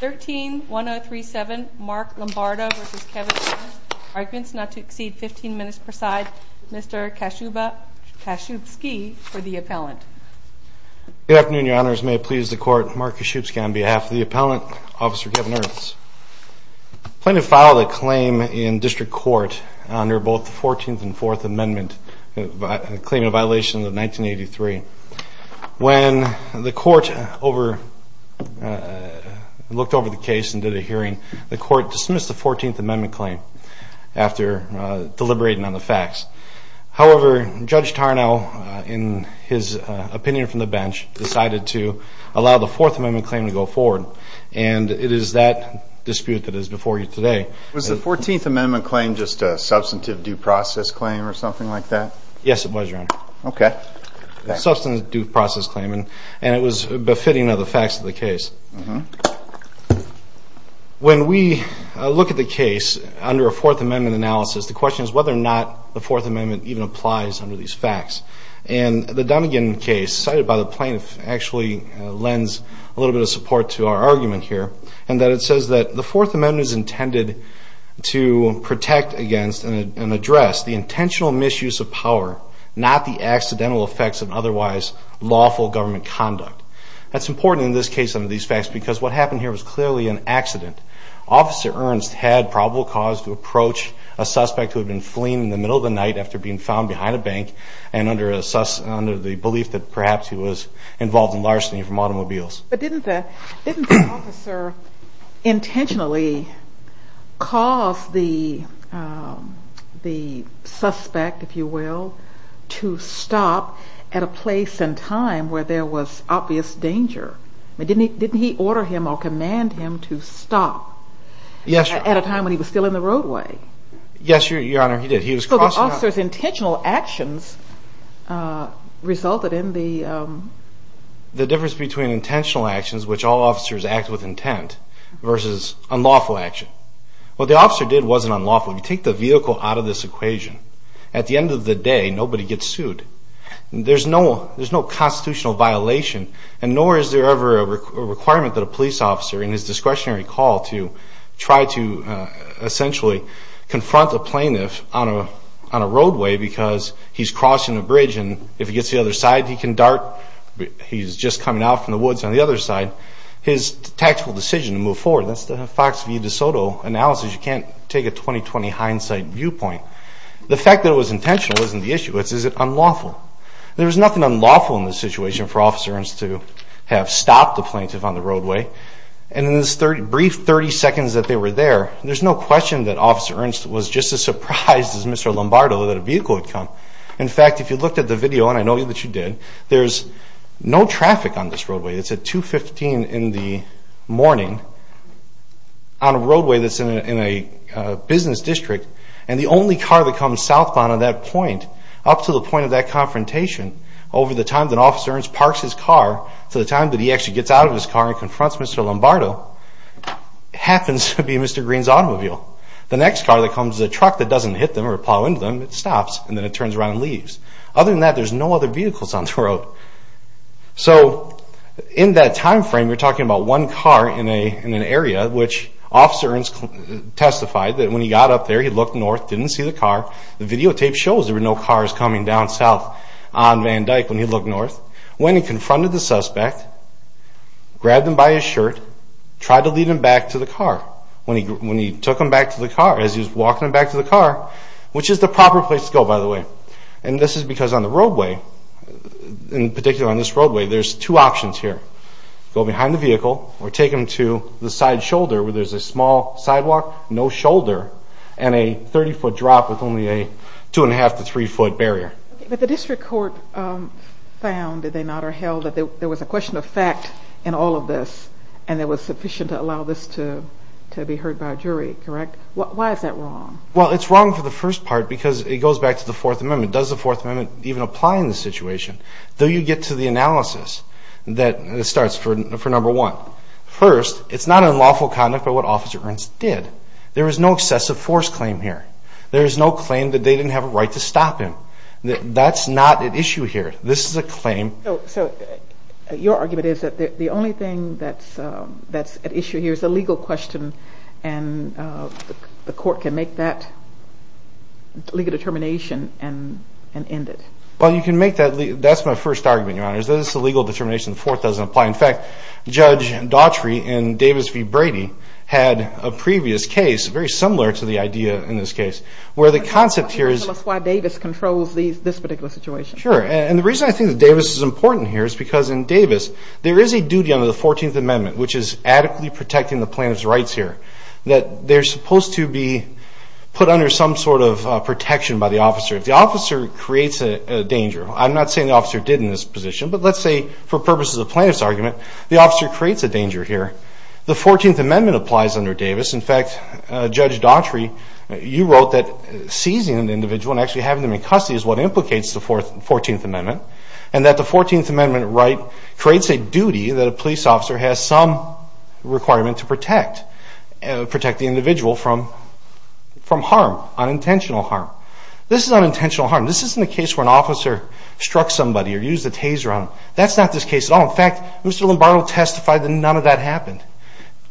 13-1037, Mark Lombardo v. Kevin Ernst. Arguments not to exceed 15 minutes per side. Mr. Kashubsky for the appellant. Good afternoon, Your Honors. May it please the court, Mark Kashubsky on behalf of the appellant, Officer Kevin Ernst. I plan to file a claim in district court under both the 14th and 4th Amendment, claiming a violation of 1983. When the court looked over the case and did a hearing, the court dismissed the 14th Amendment claim after deliberating on the facts. However, Judge Tarnow, in his opinion from the bench, decided to allow the 4th Amendment claim to go forward. And it is that dispute that is before you today. Was the 14th Amendment claim just a substantive due process claim or something like that? Yes, it was, Your Honor. OK. Substantive due process claim, and it was befitting of the facts of the case. When we look at the case under a 4th Amendment analysis, the question is whether or not the 4th Amendment even applies under these facts. And the Dunnegan case, cited by the plaintiff, actually lends a little bit of support to our argument here in that it says that the 4th Amendment is intended to protect against and address the intentional misuse of power, not the accidental effects of otherwise lawful government conduct. That's important in this case under these facts because what happened here was clearly an accident. Officer Ernst had probable cause to approach a suspect who had been fleeing in the middle of the night after being found behind a bank and under the belief that perhaps he was involved in larceny from automobiles. But didn't the officer intentionally cause the suspect, if you will, to stop at a place and time where there was obvious danger? Didn't he order him or command him to stop at a time when he was still in the roadway? Yes, Your Honor, he did. He was crossing out. So the officer's intentional actions resulted in the? The difference between intentional actions, which all officers act with intent, versus unlawful action. What the officer did wasn't unlawful. You take the vehicle out of this equation. At the end of the day, nobody gets sued. There's no constitutional violation, and nor is there ever a requirement that a police officer, in his discretionary call, to try to essentially confront a plaintiff on a roadway because he's crossing a bridge. And if he gets to the other side, he can dart. He's just coming out from the woods on the other side. His tactical decision to move forward, that's the Fox v. DeSoto analysis. You can't take a 20-20 hindsight viewpoint. The fact that it was intentional isn't the issue. It's, is it unlawful? There's nothing unlawful in this situation for Officer Ernst to have stopped the plaintiff on the roadway. And in this brief 30 seconds that they were there, there's no question that Officer Ernst was just as surprised as Mr. Lombardo that a vehicle had come. In fact, if you looked at the video, and I know that you did, there's no traffic on this roadway. It's at 2.15 in the morning on a roadway that's in a business district. And the only car that comes southbound on that point, up to the point of that confrontation, over the time that Officer Ernst parks his car, to the time that he actually gets out of his car and confronts Mr. Lombardo, happens to be Mr. Green's automobile. The next car that comes is a truck that doesn't hit them or plow into them. It stops, and then it turns around and leaves. Other than that, there's no other vehicles on the road. So in that time frame, we're talking about one car in an area, which Officer Ernst testified that when he got up there, he looked north, didn't see the car. The videotape shows there were no cars coming down south on Van Dyke when he looked north. When he confronted the suspect, grabbed him by his shirt, tried to lead him back to the car. When he took him back to the car, as he was walking him back to the car, which is the proper place to go, by the way. And this is because on the roadway, in particular on this roadway, there's two options here. Go behind the vehicle or take him to the side shoulder where there's a small sidewalk, no shoulder, and a 30-foot drop with only a 2 and 1 half to 3-foot barrier. But the district court found, did they not, or held that there was a question of fact in all of this and there was sufficient to allow this to be heard by a jury, correct? Why is that wrong? Well, it's wrong for the first part because it goes back to the Fourth Amendment. Does the Fourth Amendment even apply in this situation? Do you get to the analysis that starts for number one? First, it's not unlawful conduct by what Officer Ernst did. There is no excessive force claim here. There is no claim that they didn't have a right to stop him. That's not at issue here. This is a claim. So your argument is that the only thing that's at issue here is a legal question and the court can make that legal determination and end it. Well, you can make that. That's my first argument, Your Honor, is that it's a legal determination. The fourth doesn't apply. In fact, Judge Daughtry in Davis v. Brady had a previous case very similar to the idea in this case where the concept here is- Tell us why Davis controls this particular situation. Sure, and the reason I think Davis is important here is because in Davis, there is a duty under the 14th Amendment, which is adequately protecting the plaintiff's rights here, that they're supposed to be put under some sort of protection by the officer. If the officer creates a danger- I'm not saying the officer didn't in this position, but let's say for purposes of the plaintiff's argument, the officer creates a danger here. The 14th Amendment applies under Davis. In fact, Judge Daughtry, you wrote that seizing an individual and actually having them in custody is what implicates the 14th Amendment and that the 14th Amendment right creates a duty that a police officer has some requirement to protect the individual from harm, unintentional harm. This is unintentional harm. This isn't a case where an officer struck somebody or used a taser on them. That's not this case at all. In fact, Mr. Lombardo testified that none of that happened.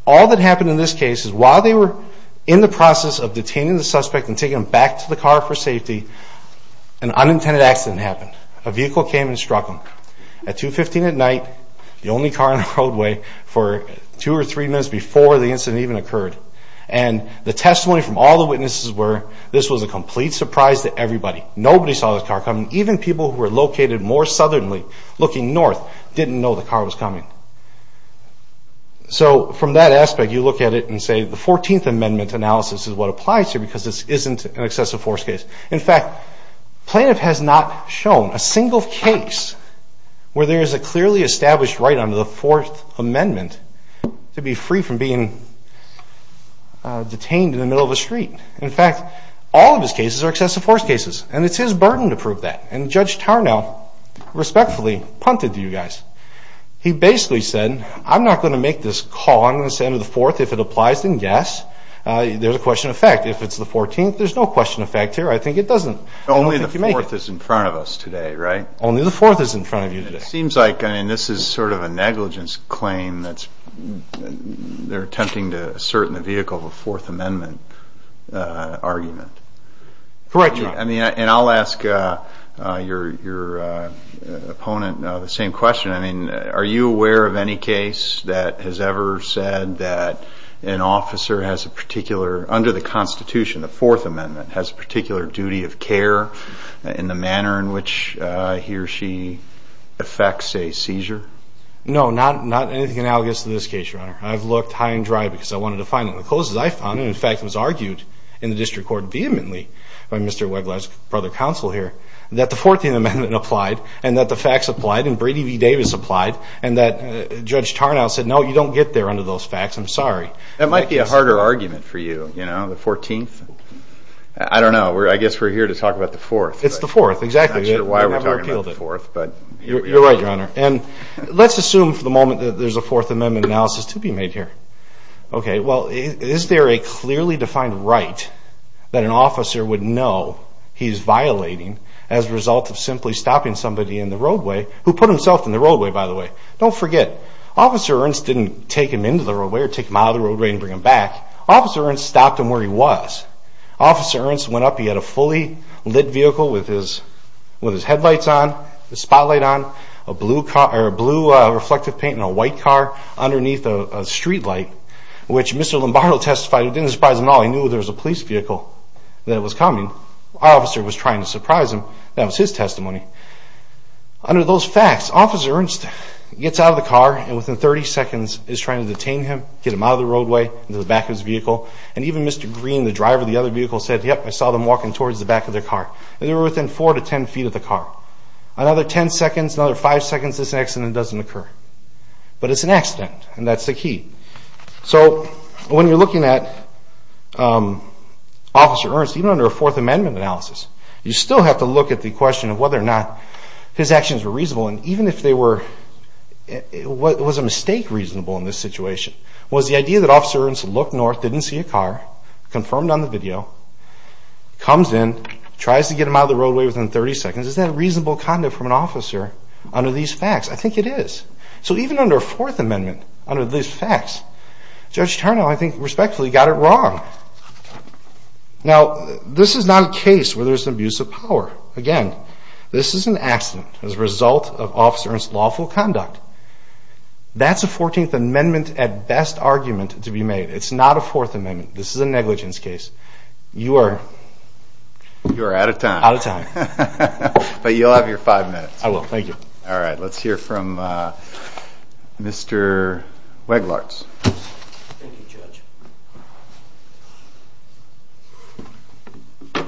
All that happened in this case is while they were in the process of detaining the suspect and taking them back to the car for safety, an unintended accident happened. A vehicle came and struck them at 215 at night, the only car on the roadway, for two or three minutes before the incident even occurred. And the testimony from all the witnesses were this was a complete surprise to everybody. Nobody saw this car coming. Even people who were located more southerly, looking north, didn't know the car was coming. So from that aspect, you look at it and say the 14th Amendment analysis is what applies here because this isn't an excessive force case. In fact, plaintiff has not shown a single case where there is a clearly established right under the Fourth Amendment to be free from being detained in the middle of a street. In fact, all of his cases are excessive force cases. And it's his burden to prove that. And Judge Tarnow respectfully punted to you guys. He basically said, I'm not going to make this call. I'm going to say under the Fourth if it applies, then yes. There's a question of fact. If it's the 14th, there's no question of fact here. I think it doesn't. Only the Fourth is in front of us today, right? Only the Fourth is in front of you today. This is sort of a negligence claim that they're attempting to assert in the vehicle of a Fourth Amendment argument. Correct, Your Honor. And I'll ask your opponent the same question. Are you aware of any case that has ever said that an officer has a particular, under the Constitution, the Fourth Amendment, has a particular duty of care in the manner in which he affects a seizure? No, not anything analogous to this case, Your Honor. I've looked high and dry because I wanted to find it in the closes I found. And in fact, it was argued in the district court vehemently by Mr. Weglasg, brother of counsel here, that the 14th Amendment applied, and that the facts applied, and Brady v. Davis applied, and that Judge Tarnow said, no, you don't get there under those facts. I'm sorry. That might be a harder argument for you, you know? The 14th? I don't know. I guess we're here to talk about the Fourth. It's the Fourth, exactly. I'm not sure why we're talking about the Fourth, but. You're right, Your Honor. And let's assume for the moment that there's a Fourth Amendment analysis to be made here. OK, well, is there a clearly defined right that an officer would know he's violating as a result of simply stopping somebody in the roadway, who put himself in the roadway, by the way? Don't forget, Officer Ernst didn't take him into the roadway or take him out of the roadway and bring him back. Officer Ernst stopped him where he was. Officer Ernst went up. He had a fully lit vehicle with his headlights on, the spotlight on, a blue car, a blue reflective paint and a white car underneath a streetlight, which Mr. Lombardo testified, it didn't surprise him at all. He knew there was a police vehicle that was coming. Our officer was trying to surprise him. That was his testimony. Under those facts, Officer Ernst gets out of the car and within 30 seconds is trying to detain him, get him out of the roadway, into the back of his vehicle. And even Mr. Green, the driver of the other vehicle, said, yep, I saw them walking towards the back of their car. And they were within 4 to 10 feet of the car. Another 10 seconds, another 5 seconds, this accident doesn't occur. But it's an accident, and that's the key. So when you're looking at Officer Ernst, even under a Fourth Amendment analysis, you still have to look at the question of whether or not his actions were reasonable. And even if they were, was a mistake reasonable in this situation? Was the idea that Officer Ernst looked north, didn't see a car, confirmed on the video, comes in, tries to get him out of the roadway within 30 seconds, is that reasonable conduct from an officer under these facts? I think it is. So even under a Fourth Amendment, under these facts, Judge Turnow, I think, respectfully, got it wrong. Now, this is not a case where there's an abuse of power. Again, this is an accident as a result of Officer Ernst's lawful conduct. That's a 14th Amendment, at best, argument to be made. It's not a Fourth Amendment. This is a negligence case. You are out of time. Out of time. But you'll have your five minutes. I will. Thank you. All right, let's hear from Mr. Weglartz. Thank you, Judge.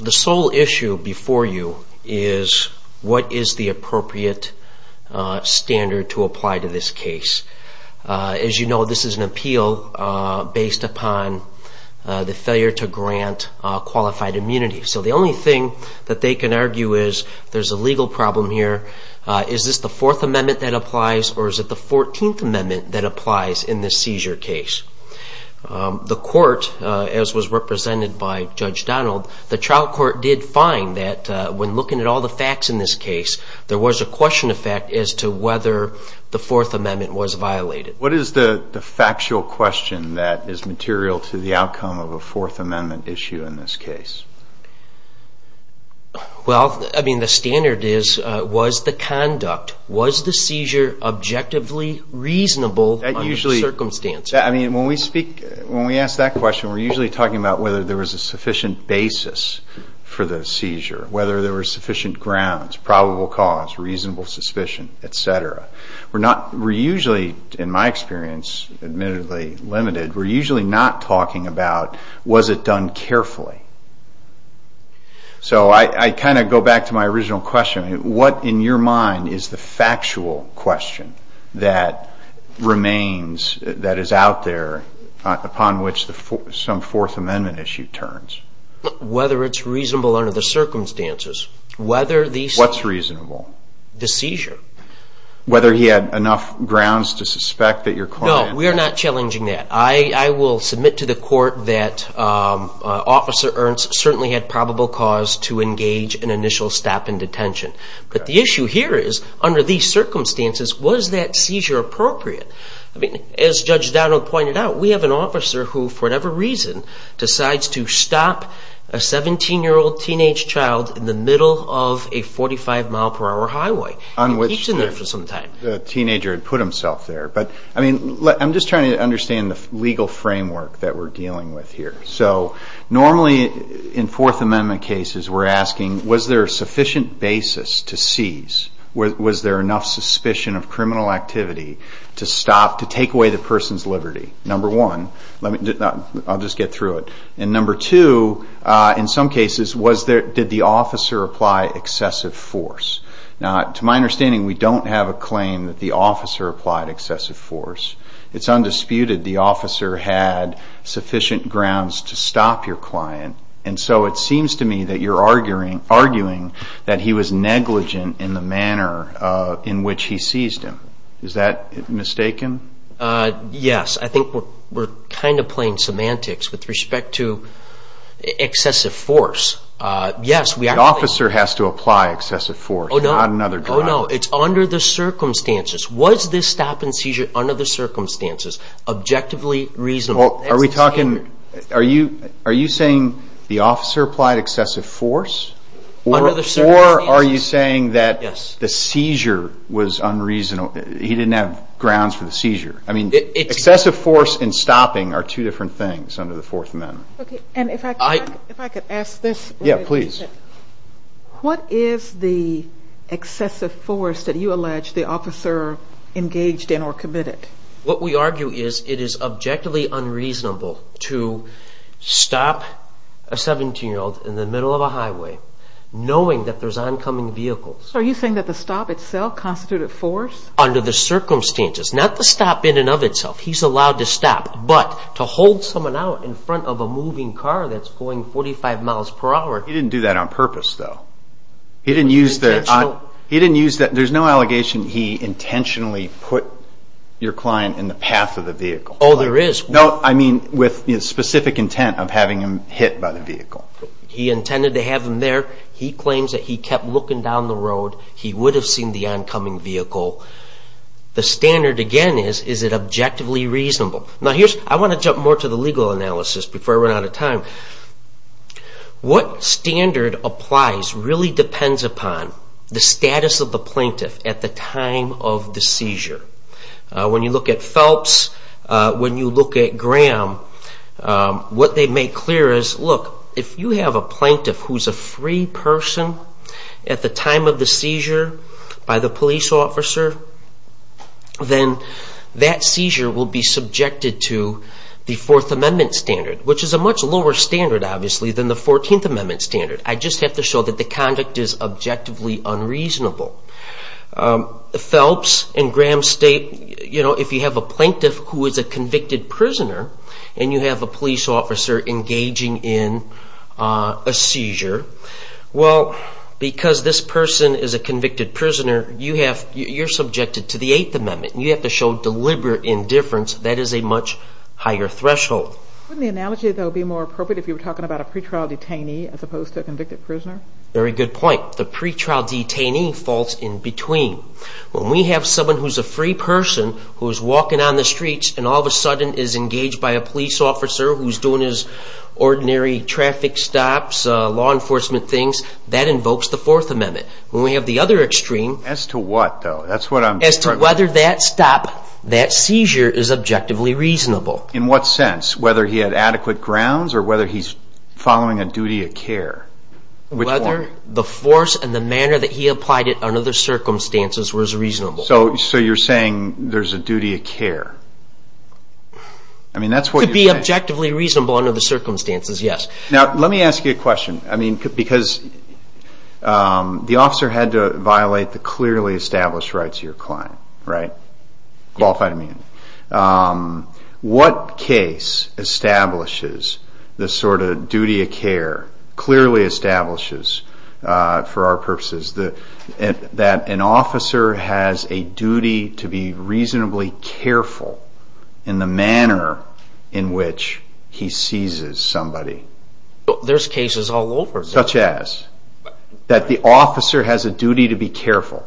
The sole issue before you is, what is the appropriate standard to apply to this case? As you know, this is an appeal based upon the failure to grant qualified immunity. So the only thing that they can argue is, there's a legal problem here. Is this the Fourth Amendment that applies, or is it the 14th Amendment that applies in this seizure case? The court, as was represented by Judge Donald, the trial court did find that, when looking at all the facts in this case, there was a question of fact as to whether the Fourth Amendment was violated. What is the factual question that is material to the outcome of a Fourth Amendment issue in this case? Well, I mean, the standard is, was the conduct, was the seizure objectively reasonable under the circumstances? I mean, when we speak, when we ask that question, we're usually talking about whether there was a sufficient basis for the seizure, whether there were sufficient grounds, probable cause, reasonable suspicion, et cetera. We're usually, in my experience, admittedly limited, we're usually not talking about, was it done carefully? So I kind of go back to my original question. What, in your mind, is the factual question that remains, that is out there, upon which some Fourth Amendment issue turns? Whether it's reasonable under the circumstances. Whether the seizure. What's reasonable? The seizure. Whether he had enough grounds to suspect that your claim. No, we are not challenging that. I will submit to the court that Officer Ernst certainly had probable cause to engage in initial stop in detention. But the issue here is, under these circumstances, was that seizure appropriate? I mean, as Judge Donald pointed out, we have an officer who, for whatever reason, decides to stop a 17-year-old teenage child in the middle of a 45 mile per hour highway. He's in there for some time. The teenager had put himself there. But I mean, I'm just trying to understand the legal framework that we're dealing with here. So normally, in Fourth Amendment cases, we're asking, was there a sufficient basis to seize? Was there enough suspicion of criminal activity to stop, to take away the person's liberty? Number one. I'll just get through it. And number two, in some cases, did the officer apply excessive force? Now, to my understanding, we don't have a claim that the officer applied excessive force. It's undisputed the officer had sufficient grounds to stop your client. And so it seems to me that you're arguing that he was negligent in the manner in which he seized him. Is that mistaken? Yes. I think we're kind of playing semantics with respect to excessive force. Yes, we are. The officer has to apply excessive force, not another driver. Oh, no. It's under the circumstances. Was this stop and seizure under the circumstances objectively reasonable? Are we talking, are you saying the officer applied excessive force? Under the circumstances? Or are you saying that the seizure was unreasonable? He didn't have grounds for the seizure. I mean, excessive force and stopping are two different things under the Fourth Amendment. And if I could ask this. Yeah, please. What is the excessive force that you allege the officer engaged in or committed? What we argue is it is objectively unreasonable to stop a 17-year-old in the middle of a highway knowing that there's oncoming vehicles. Are you saying that the stop itself constituted force? Under the circumstances. Not the stop in and of itself. He's allowed to stop. But to hold someone out in front of a moving car that's moving 45 miles per hour. He didn't do that on purpose, though. He didn't use the, there's no allegation he intentionally put your client in the path of the vehicle. Oh, there is. No, I mean with specific intent of having him hit by the vehicle. He intended to have him there. He claims that he kept looking down the road. He would have seen the oncoming vehicle. The standard again is, is it objectively reasonable? Now here's, I want to jump more to the legal analysis before I run out of time. What standard applies really depends upon the status of the plaintiff at the time of the seizure. When you look at Phelps, when you look at Graham, what they make clear is, look, if you have a plaintiff who's a free person at the time of the seizure by the police officer, then that seizure will be subjected to the Fourth Amendment standard, which is a much lower standard, obviously, than the Fourteenth Amendment standard. I just have to show that the conduct is objectively unreasonable. Phelps and Graham State, you know, if you have a plaintiff who is a convicted prisoner and you have a police officer engaging in a seizure, well, because this person is a convicted prisoner, you have, you're subjected to the Eighth Amendment. You have to show deliberate indifference. That is a much higher threshold. Wouldn't the analogy, though, be more appropriate if you were talking about a pre-trial detainee as opposed to a convicted prisoner? Very good point. The pre-trial detainee falls in between. When we have someone who's a free person who is walking on the streets and all of a sudden is engaged by a police officer who's doing his ordinary traffic stops, law enforcement things, that invokes the Fourth Amendment. When we have the other extreme. As to what, though? That's what I'm trying to get at. As to whether that stop, that seizure, is objectively reasonable. In what sense? Whether he had adequate grounds or whether he's following a duty of care? Whether the force and the manner that he applied it under the circumstances was reasonable. So you're saying there's a duty of care. I mean, that's what you're saying. To be objectively reasonable under the circumstances, yes. Now, let me ask you a question. I mean, because the officer had to violate the clearly established rights of your client, right? Qualified, I mean. What case establishes the sort of duty of care, clearly establishes, for our purposes, that an officer has a duty to be reasonably careful in the manner in which he seizes somebody? There's cases all over. Such as? That the officer has a duty to be careful.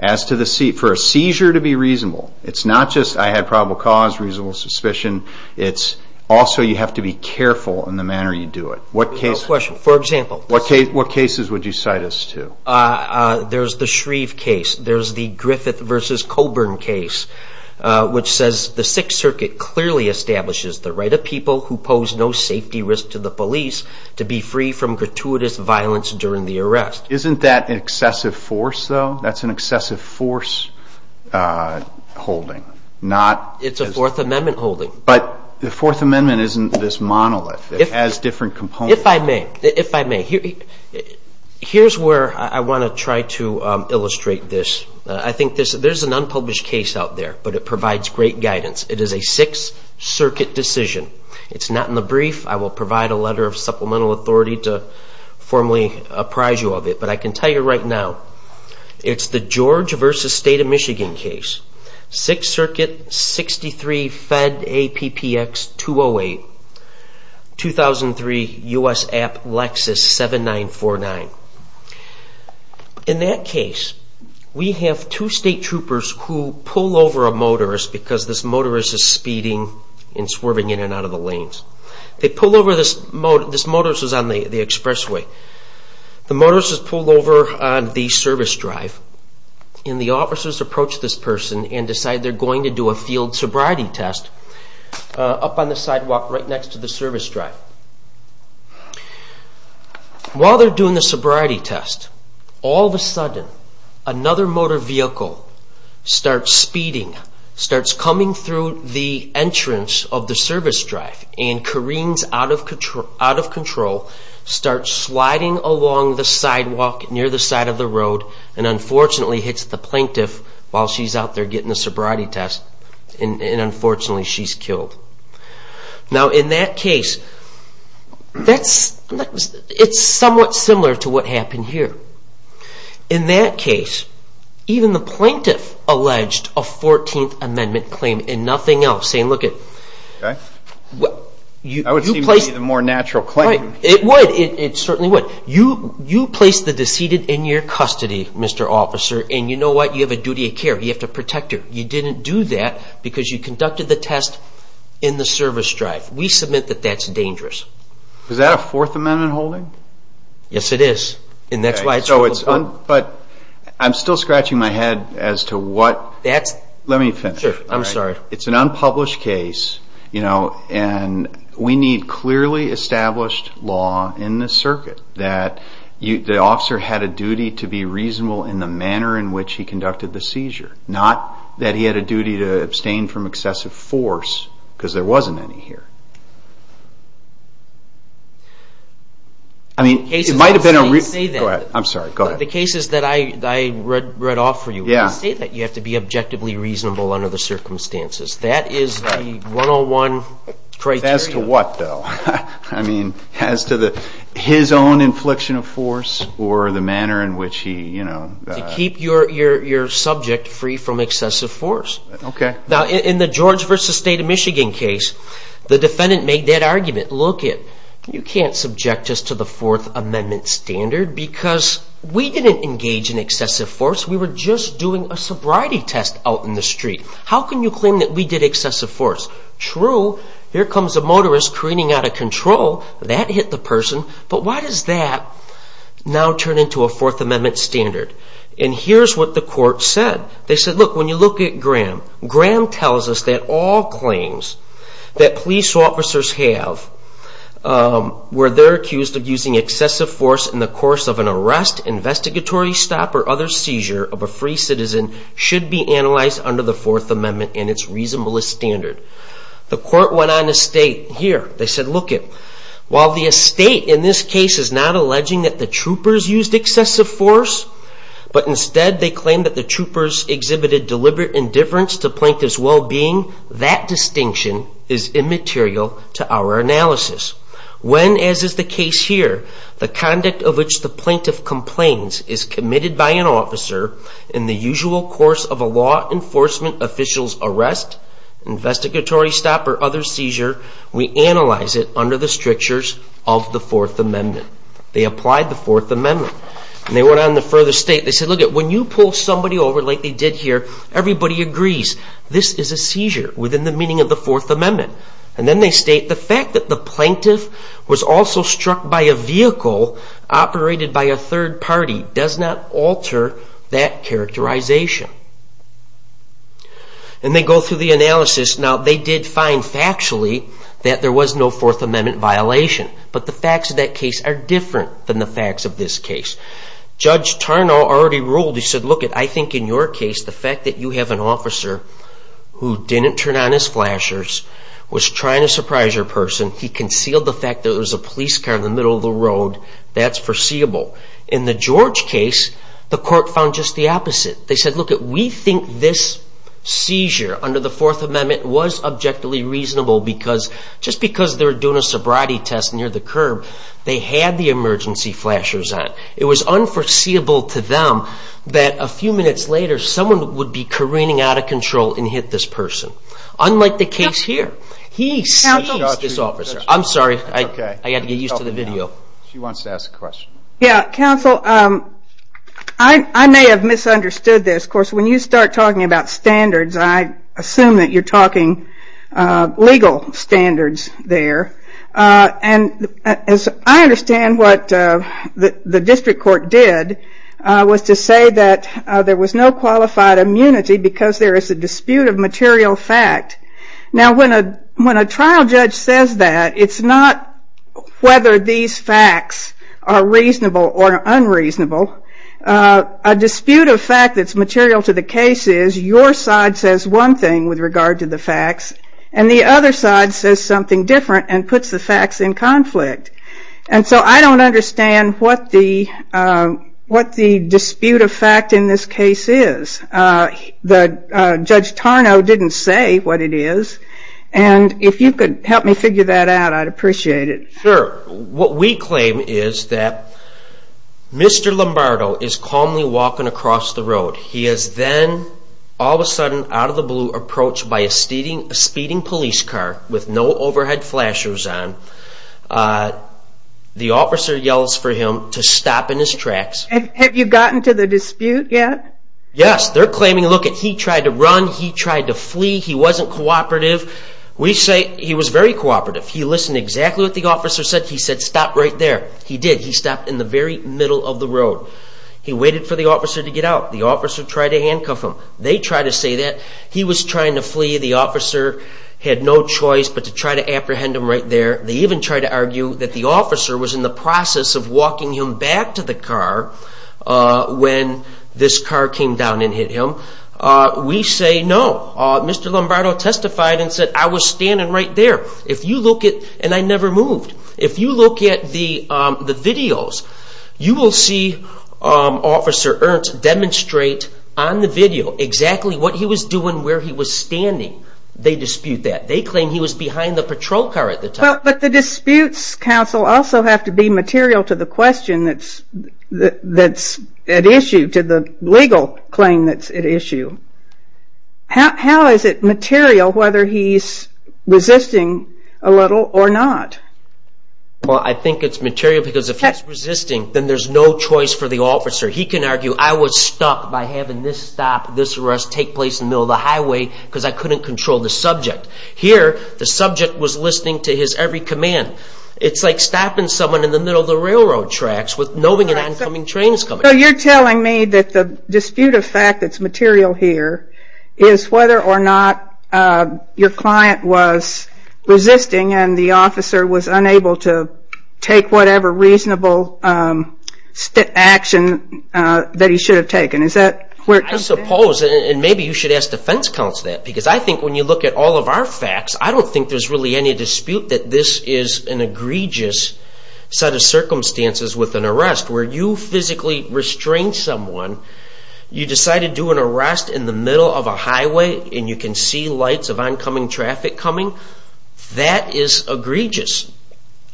As to the seizure, for a seizure to be reasonable, it's not just I had probable cause, reasonable suspicion. It's also you have to be careful in the manner you do it. What case? No question. For example? What cases would you cite us to? There's the Shreve case. There's the Griffith versus Coburn case, which says, the Sixth Circuit clearly establishes the right of people who pose no safety risk to the police to be free from gratuitous violence during the arrest. Isn't that an excessive force, though? That's an excessive force holding, not? It's a Fourth Amendment holding. But the Fourth Amendment isn't this monolith. It has different components. If I may, if I may, here's where I want to try to illustrate this. I think there's an unpublished case out there, but it provides great guidance. It is a Sixth Circuit decision. It's not in the brief. I will provide a letter of supplemental authority to formally apprise you of it. But I can tell you right now, it's the George versus State of Michigan case. Sixth Circuit, 63 Fed APPX 208, 2003 US App Lexus 7949. In that case, we have two state troopers who pull over a motorist because this motorist is speeding and swerving in and out of the lanes. They pull over this motorist. This motorist is on the expressway. The motorist is pulled over on the service drive. And the officers approach this person and decide they're going to do a field sobriety test up on the sidewalk right next to the service drive. While they're doing the sobriety test, all of a sudden, another motor vehicle starts speeding, starts coming through the entrance of the service drive, and careens out of control, starts sliding along the sidewalk near the side of the road, and unfortunately, hits the plaintiff while she's out there getting the sobriety test. And unfortunately, she's killed. Now, in that case, it's somewhat similar to what happened here. In that case, even the plaintiff alleged a 14th Amendment claim and nothing else, saying, look it, you placed the decedent in your custody, Mr. Officer, and you know what? You have a duty of care. You have to protect her. You didn't do that because you conducted the test in the service drive. We submit that that's dangerous. Is that a Fourth Amendment holding? Yes, it is. And that's why it's ruled. But I'm still scratching my head as to what. Let me finish. It's an unpublished case. And we need clearly established law in the circuit that the officer had a duty to be reasonable in the manner in which he conducted the seizure, not that he had a duty to abstain from excessive force because there wasn't any here. I mean, it might have been a reason. I'm sorry, go ahead. The cases that I read off for you, when you say that you have to be objectively reasonable under the circumstances, that is the 101 criteria. As to what, though? I mean, as to his own infliction of force or the manner in which he, you know. To keep your subject free from excessive force. OK. Now, in the George v. State of Michigan case, the defendant made that argument. Look it, you can't subject us to the Fourth Amendment standard because we didn't engage in excessive force. We were just doing a sobriety test out in the street. How can you claim that we did excessive force? True, here comes a motorist careening out of control. That hit the person. But why does that now turn into a Fourth Amendment standard? And here's what the court said. They said, look, when you look at Graham, Graham tells us that all claims that police officers have where they're accused of using excessive force in the course of an arrest, investigatory stop, or other seizure of a free citizen should be analyzed under the Fourth Amendment and its reasonablest standard. The court went on to state here, they said, look it, while the estate in this case is not alleging that the troopers used excessive force, but instead they claim that the troopers exhibited deliberate indifference to plaintiff's well-being, that distinction is immaterial to our analysis. When, as is the case here, the conduct of which the plaintiff complains is committed by an officer in the usual course of a law enforcement official's arrest, investigatory stop, or other seizure, we analyze it under the strictures of the Fourth Amendment. They applied the Fourth Amendment. And they went on to further state, they said, look it, when you pull somebody over like they did here, everybody agrees this is a seizure within the meaning of the Fourth Amendment. And then they state the fact that the plaintiff was also struck by a vehicle operated by a third party does not alter that characterization. And they go through the analysis. Now, they did find factually that there was no Fourth Amendment violation. But the facts of that case are different than the facts of this case. Judge Tarnow already ruled, he said, look it, I think in your case, the fact that you have an officer who didn't turn on his flashers, was trying to surprise your person, he concealed the fact that it was a police car in the middle of the road, that's foreseeable. In the George case, the court found just the opposite. They said, look it, we think this seizure under the Fourth Amendment was objectively reasonable because just because they were doing a sobriety test near the curb, they had the emergency flashers on. It was unforeseeable to them that a few minutes later, someone would be careening out of control and hit this person. Unlike the case here. He seized this officer. I'm sorry, I had to get used to the video. She wants to ask a question. Yeah, counsel, I may have misunderstood this. Of course, when you start talking about standards, I assume that you're talking legal standards there. And I understand what the district court did was to say that there was no qualified immunity because there is a dispute of material fact. Now, when a trial judge says that, it's not whether these facts are reasonable or unreasonable. A dispute of fact that's material to the case is your side says one thing with regard to the facts, and the other side says something different and puts the facts in conflict. And so I don't understand what the dispute of fact in this case is. The Judge Tarnow didn't say what it is. And if you could help me figure that out, I'd appreciate it. Sure. What we claim is that Mr. Lombardo is calmly walking across the road. He is then, all of a sudden, out of the blue, approached by a speeding police car with no overhead flashers on. The officer yells for him to stop in his tracks. Have you gotten to the dispute yet? Yes, they're claiming, look it, he tried to run, he tried to flee, he wasn't cooperative. We say he was very cooperative. He listened exactly what the officer said. He said, stop right there. He did. He stopped in the very middle of the road. He waited for the officer to get out. The officer tried to handcuff him. They try to say that he was trying to flee. The officer had no choice but to try to apprehend him right there. They even tried to argue that the officer was in the process of walking him back to the car when this car came down and hit him. We say no. Mr. Lombardo testified and said, I was standing right there. If you look at, and I never moved, if you look at the videos, you will see Officer Ernst demonstrate on the video exactly what he was doing, where he was standing. They dispute that. They claim he was behind the patrol car at the time. But the disputes, counsel, also have to be material to the question that's at issue, to the legal claim that's at issue. How is it material whether he's resisting a little or not? Well, I think it's material because if he's resisting, then there's no choice for the officer. He can argue, I was stuck by having this stop, this arrest take place in the middle of the highway because I couldn't control the subject. Here, the subject was listening to his every command. It's like stopping someone in the middle of the railroad tracks with knowing an oncoming train is coming. So you're telling me that the dispute of fact that's material here is whether or not your client was resisting and the officer was unable to take whatever reasonable action that he should have taken. Is that where it comes from? I suppose, and maybe you should ask defense counsel that. Because I think when you look at all of our facts, I don't think there's really any dispute that this is an egregious set of circumstances with an arrest where you physically restrain someone, you decide to do an arrest in the middle of a highway, and you can see lights of oncoming traffic coming. That is egregious.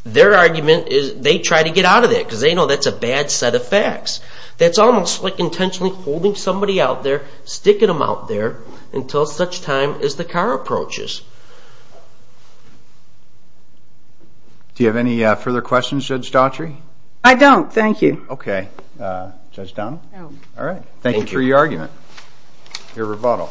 Their argument is they try to get out of that because they know that's a bad set of facts. That's almost like intentionally holding somebody out there, sticking them out there, until such time as the car approaches. Do you have any further questions, Judge Daughtry? I don't, thank you. OK. Judge Dunn? All right, thank you for your argument, your rebuttal.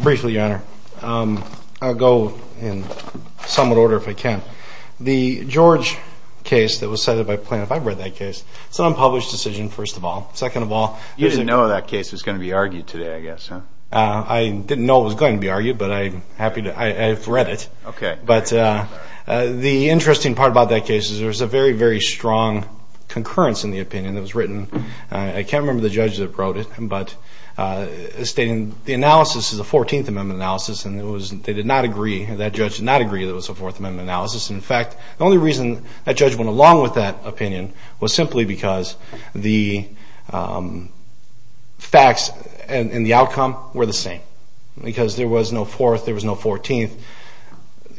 Briefly, Your Honor, I'll go in somewhat order, if I can. The George case that was cited by plaintiff, I've read that case. It's an unpublished decision, first of all. Second of all, there's a- You didn't know that case was going to be argued today, I guess, huh? I didn't know it was going to be argued, but I'm happy to- But I didn't know it was going to be argued. I'm happy to read it. OK. The interesting part about that case is there was a very, very strong concurrence in the opinion that was written. I can't remember the judge that wrote it, but stating the analysis is a 14th Amendment analysis, and they did not agree, that judge did not agree that it was a 4th Amendment analysis. In fact, the only reason that judge went along with that opinion was simply because the facts and the outcome were the same because there was no 4th, there was no 14th.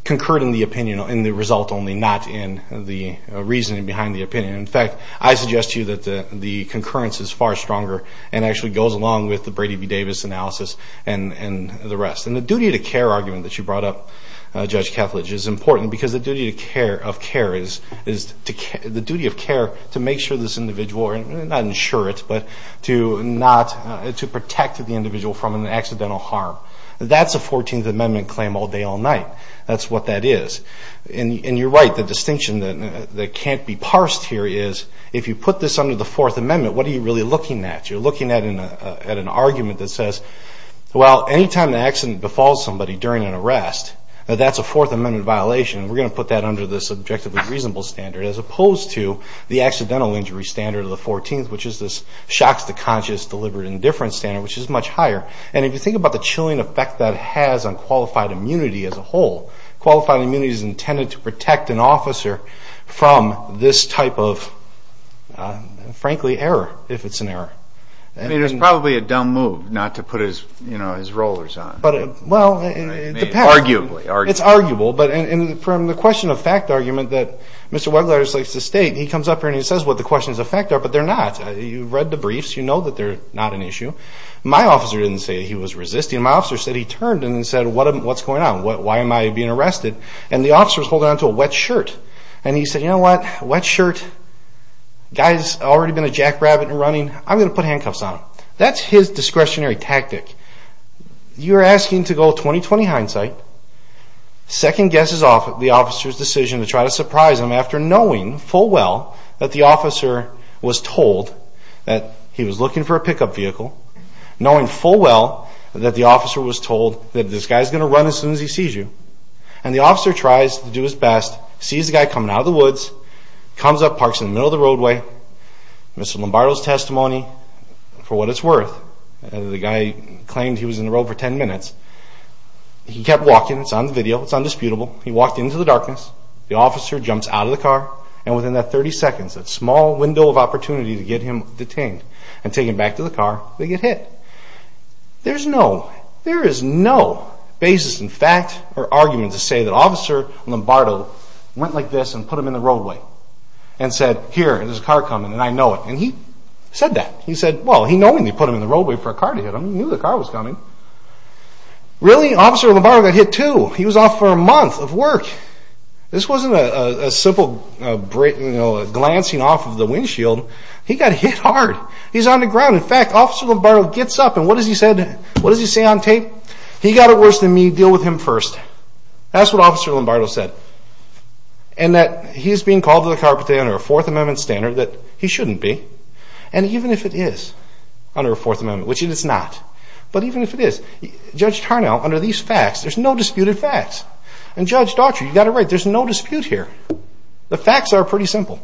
Concurred in the opinion and the result only, not in the reasoning behind the opinion. In fact, I suggest to you that the concurrence is far stronger and actually goes along with the Brady v. Davis analysis and the rest. And the duty to care argument that you brought up, Judge Kethledge, is important because the duty of care is the duty of care to make sure this individual, not insure it, but to protect the individual from an accidental harm. That's a 14th Amendment claim all day, all night. That's what that is. And you're right, the distinction that can't be parsed here is if you put this under the 4th Amendment, what are you really looking at? You're looking at an argument that says, well, anytime an accident befalls somebody during an arrest, that's a 4th Amendment violation. We're going to put that under the subjectively reasonable standard as opposed to the accidental injury standard of the 14th, which is this shocks to conscience, deliberate indifference standard, which is much higher. And if you think about the chilling effect that has on qualified immunity as a whole, qualified immunity is intended to protect an officer from this type of, frankly, error, if it's an error. I mean, it's probably a dumb move not to put his rollers on. Well, it depends. Arguably, arguably. It's arguable, but from the question of fact argument that Mr. Wegler just likes to state, he comes up here and he says what the questions of fact are, but they're not. You've read the briefs, you know that they're not an issue. My officer didn't say he was resisting. My officer said he turned and said, what's going on? Why am I being arrested? And the officer was holding on to a wet shirt. And he said, you know what? Wet shirt, guy's already been a jackrabbit and running. I'm going to put handcuffs on him. That's his discretionary tactic. You're asking to go 20-20 hindsight, second guess is off the officer's decision to try to surprise him after knowing full well that the officer was told that he was looking for a pickup vehicle, knowing full well that the officer was told that this guy's going to run as soon as he sees you, and the officer tries to do his best, sees the guy coming out of the woods, comes up, parks in the middle of the roadway. Mr. Lombardo's testimony, for what it's worth, the guy claimed he was in the road for 10 minutes. He kept walking. It's on the video. It's undisputable. He walked into the darkness. The officer jumps out of the car and within that 30 seconds, that small window of opportunity to get him detained and taken back to the car, they get hit. There's no, there is no basis in fact or argument to say that Officer Lombardo went like this and put him in the roadway and said here, there's a car coming and I know it. And he said that. He said, well, he knowingly put him in the roadway for a car to hit him. He knew the car was coming. Really? Officer Lombardo got hit too. He was off for a month of work. This wasn't a simple glancing off of the windshield. He got hit hard. He's on the ground. In fact, Officer Lombardo gets up and what does he say on tape? He got it worse than me. Deal with him first. That's what Officer Lombardo said. And that he's being called to the carpet under a Fourth Amendment standard that he shouldn't be. And even if it is under a Fourth Amendment, which it is not, but even if it is, Judge Tarnow, under these facts, there's no disputed facts. And Judge Daughtry, you got it right. There's no dispute here. The facts are pretty simple.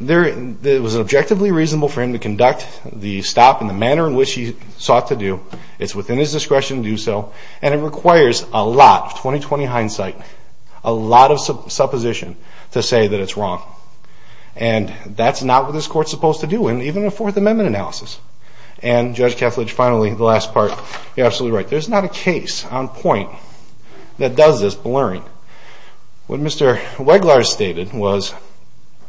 It was objectively reasonable for him to conduct the stop in the manner in which he sought to do. It's within his discretion to do so. And it requires a lot of 20-20 hindsight, a lot of supposition to say that it's wrong. And that's not what this court's supposed to do in even a Fourth Amendment analysis. And Judge Kethledge, finally, the last part. You're absolutely right. There's not a case on point that does this blurring. What Mr. Weglarz stated was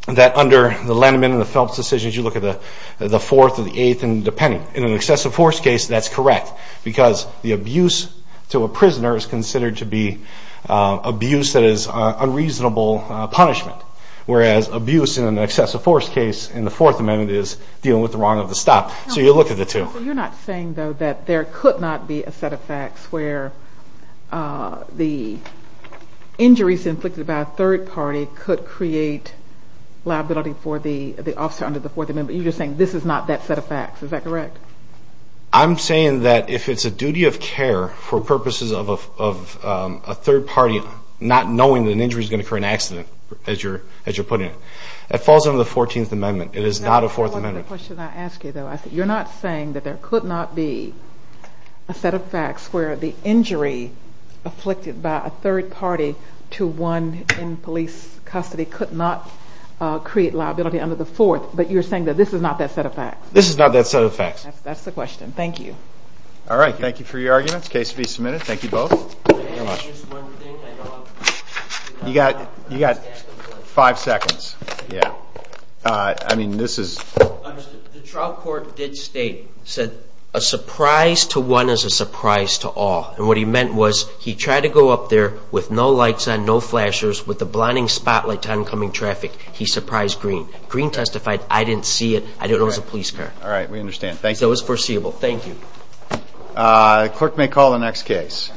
that under the Land Amendment and the Phelps decisions, you look at the Fourth or the Eighth and depending. In an excessive force case, that's correct because the abuse to a prisoner is considered to be abuse that is unreasonable punishment. Whereas abuse in an excessive force case in the Fourth Amendment is dealing with the wrong of the stop. So you look at the two. You're not saying, though, that there could not be a set of facts where the injuries inflicted by a third party could create liability for the officer under the Fourth Amendment. You're just saying this is not that set of facts. Is that correct? I'm saying that if it's a duty of care for purposes of a third party not knowing that an injury is going to occur in an accident, as you're putting it, that falls under the Fourteenth Amendment. It is not a Fourth Amendment. The other question I ask you, though, is you're not saying that there could not be a set of facts where the injury afflicted by a third party to one in police custody could not create liability under the Fourth, but you're saying that this is not that set of facts. This is not that set of facts. That's the question. Thank you. All right. Thank you for your arguments. Case to be submitted. Thank you both. You got five seconds. The trial court did state, said, a surprise to one is a surprise to all. And what he meant was he tried to go up there with no lights on, no flashers, with a blinding spotlight to oncoming traffic. He surprised Green. Green testified, I didn't see it. I didn't know it was a police car. All right. We understand. Thank you. It was foreseeable. Thank you. Clerk may call the next case.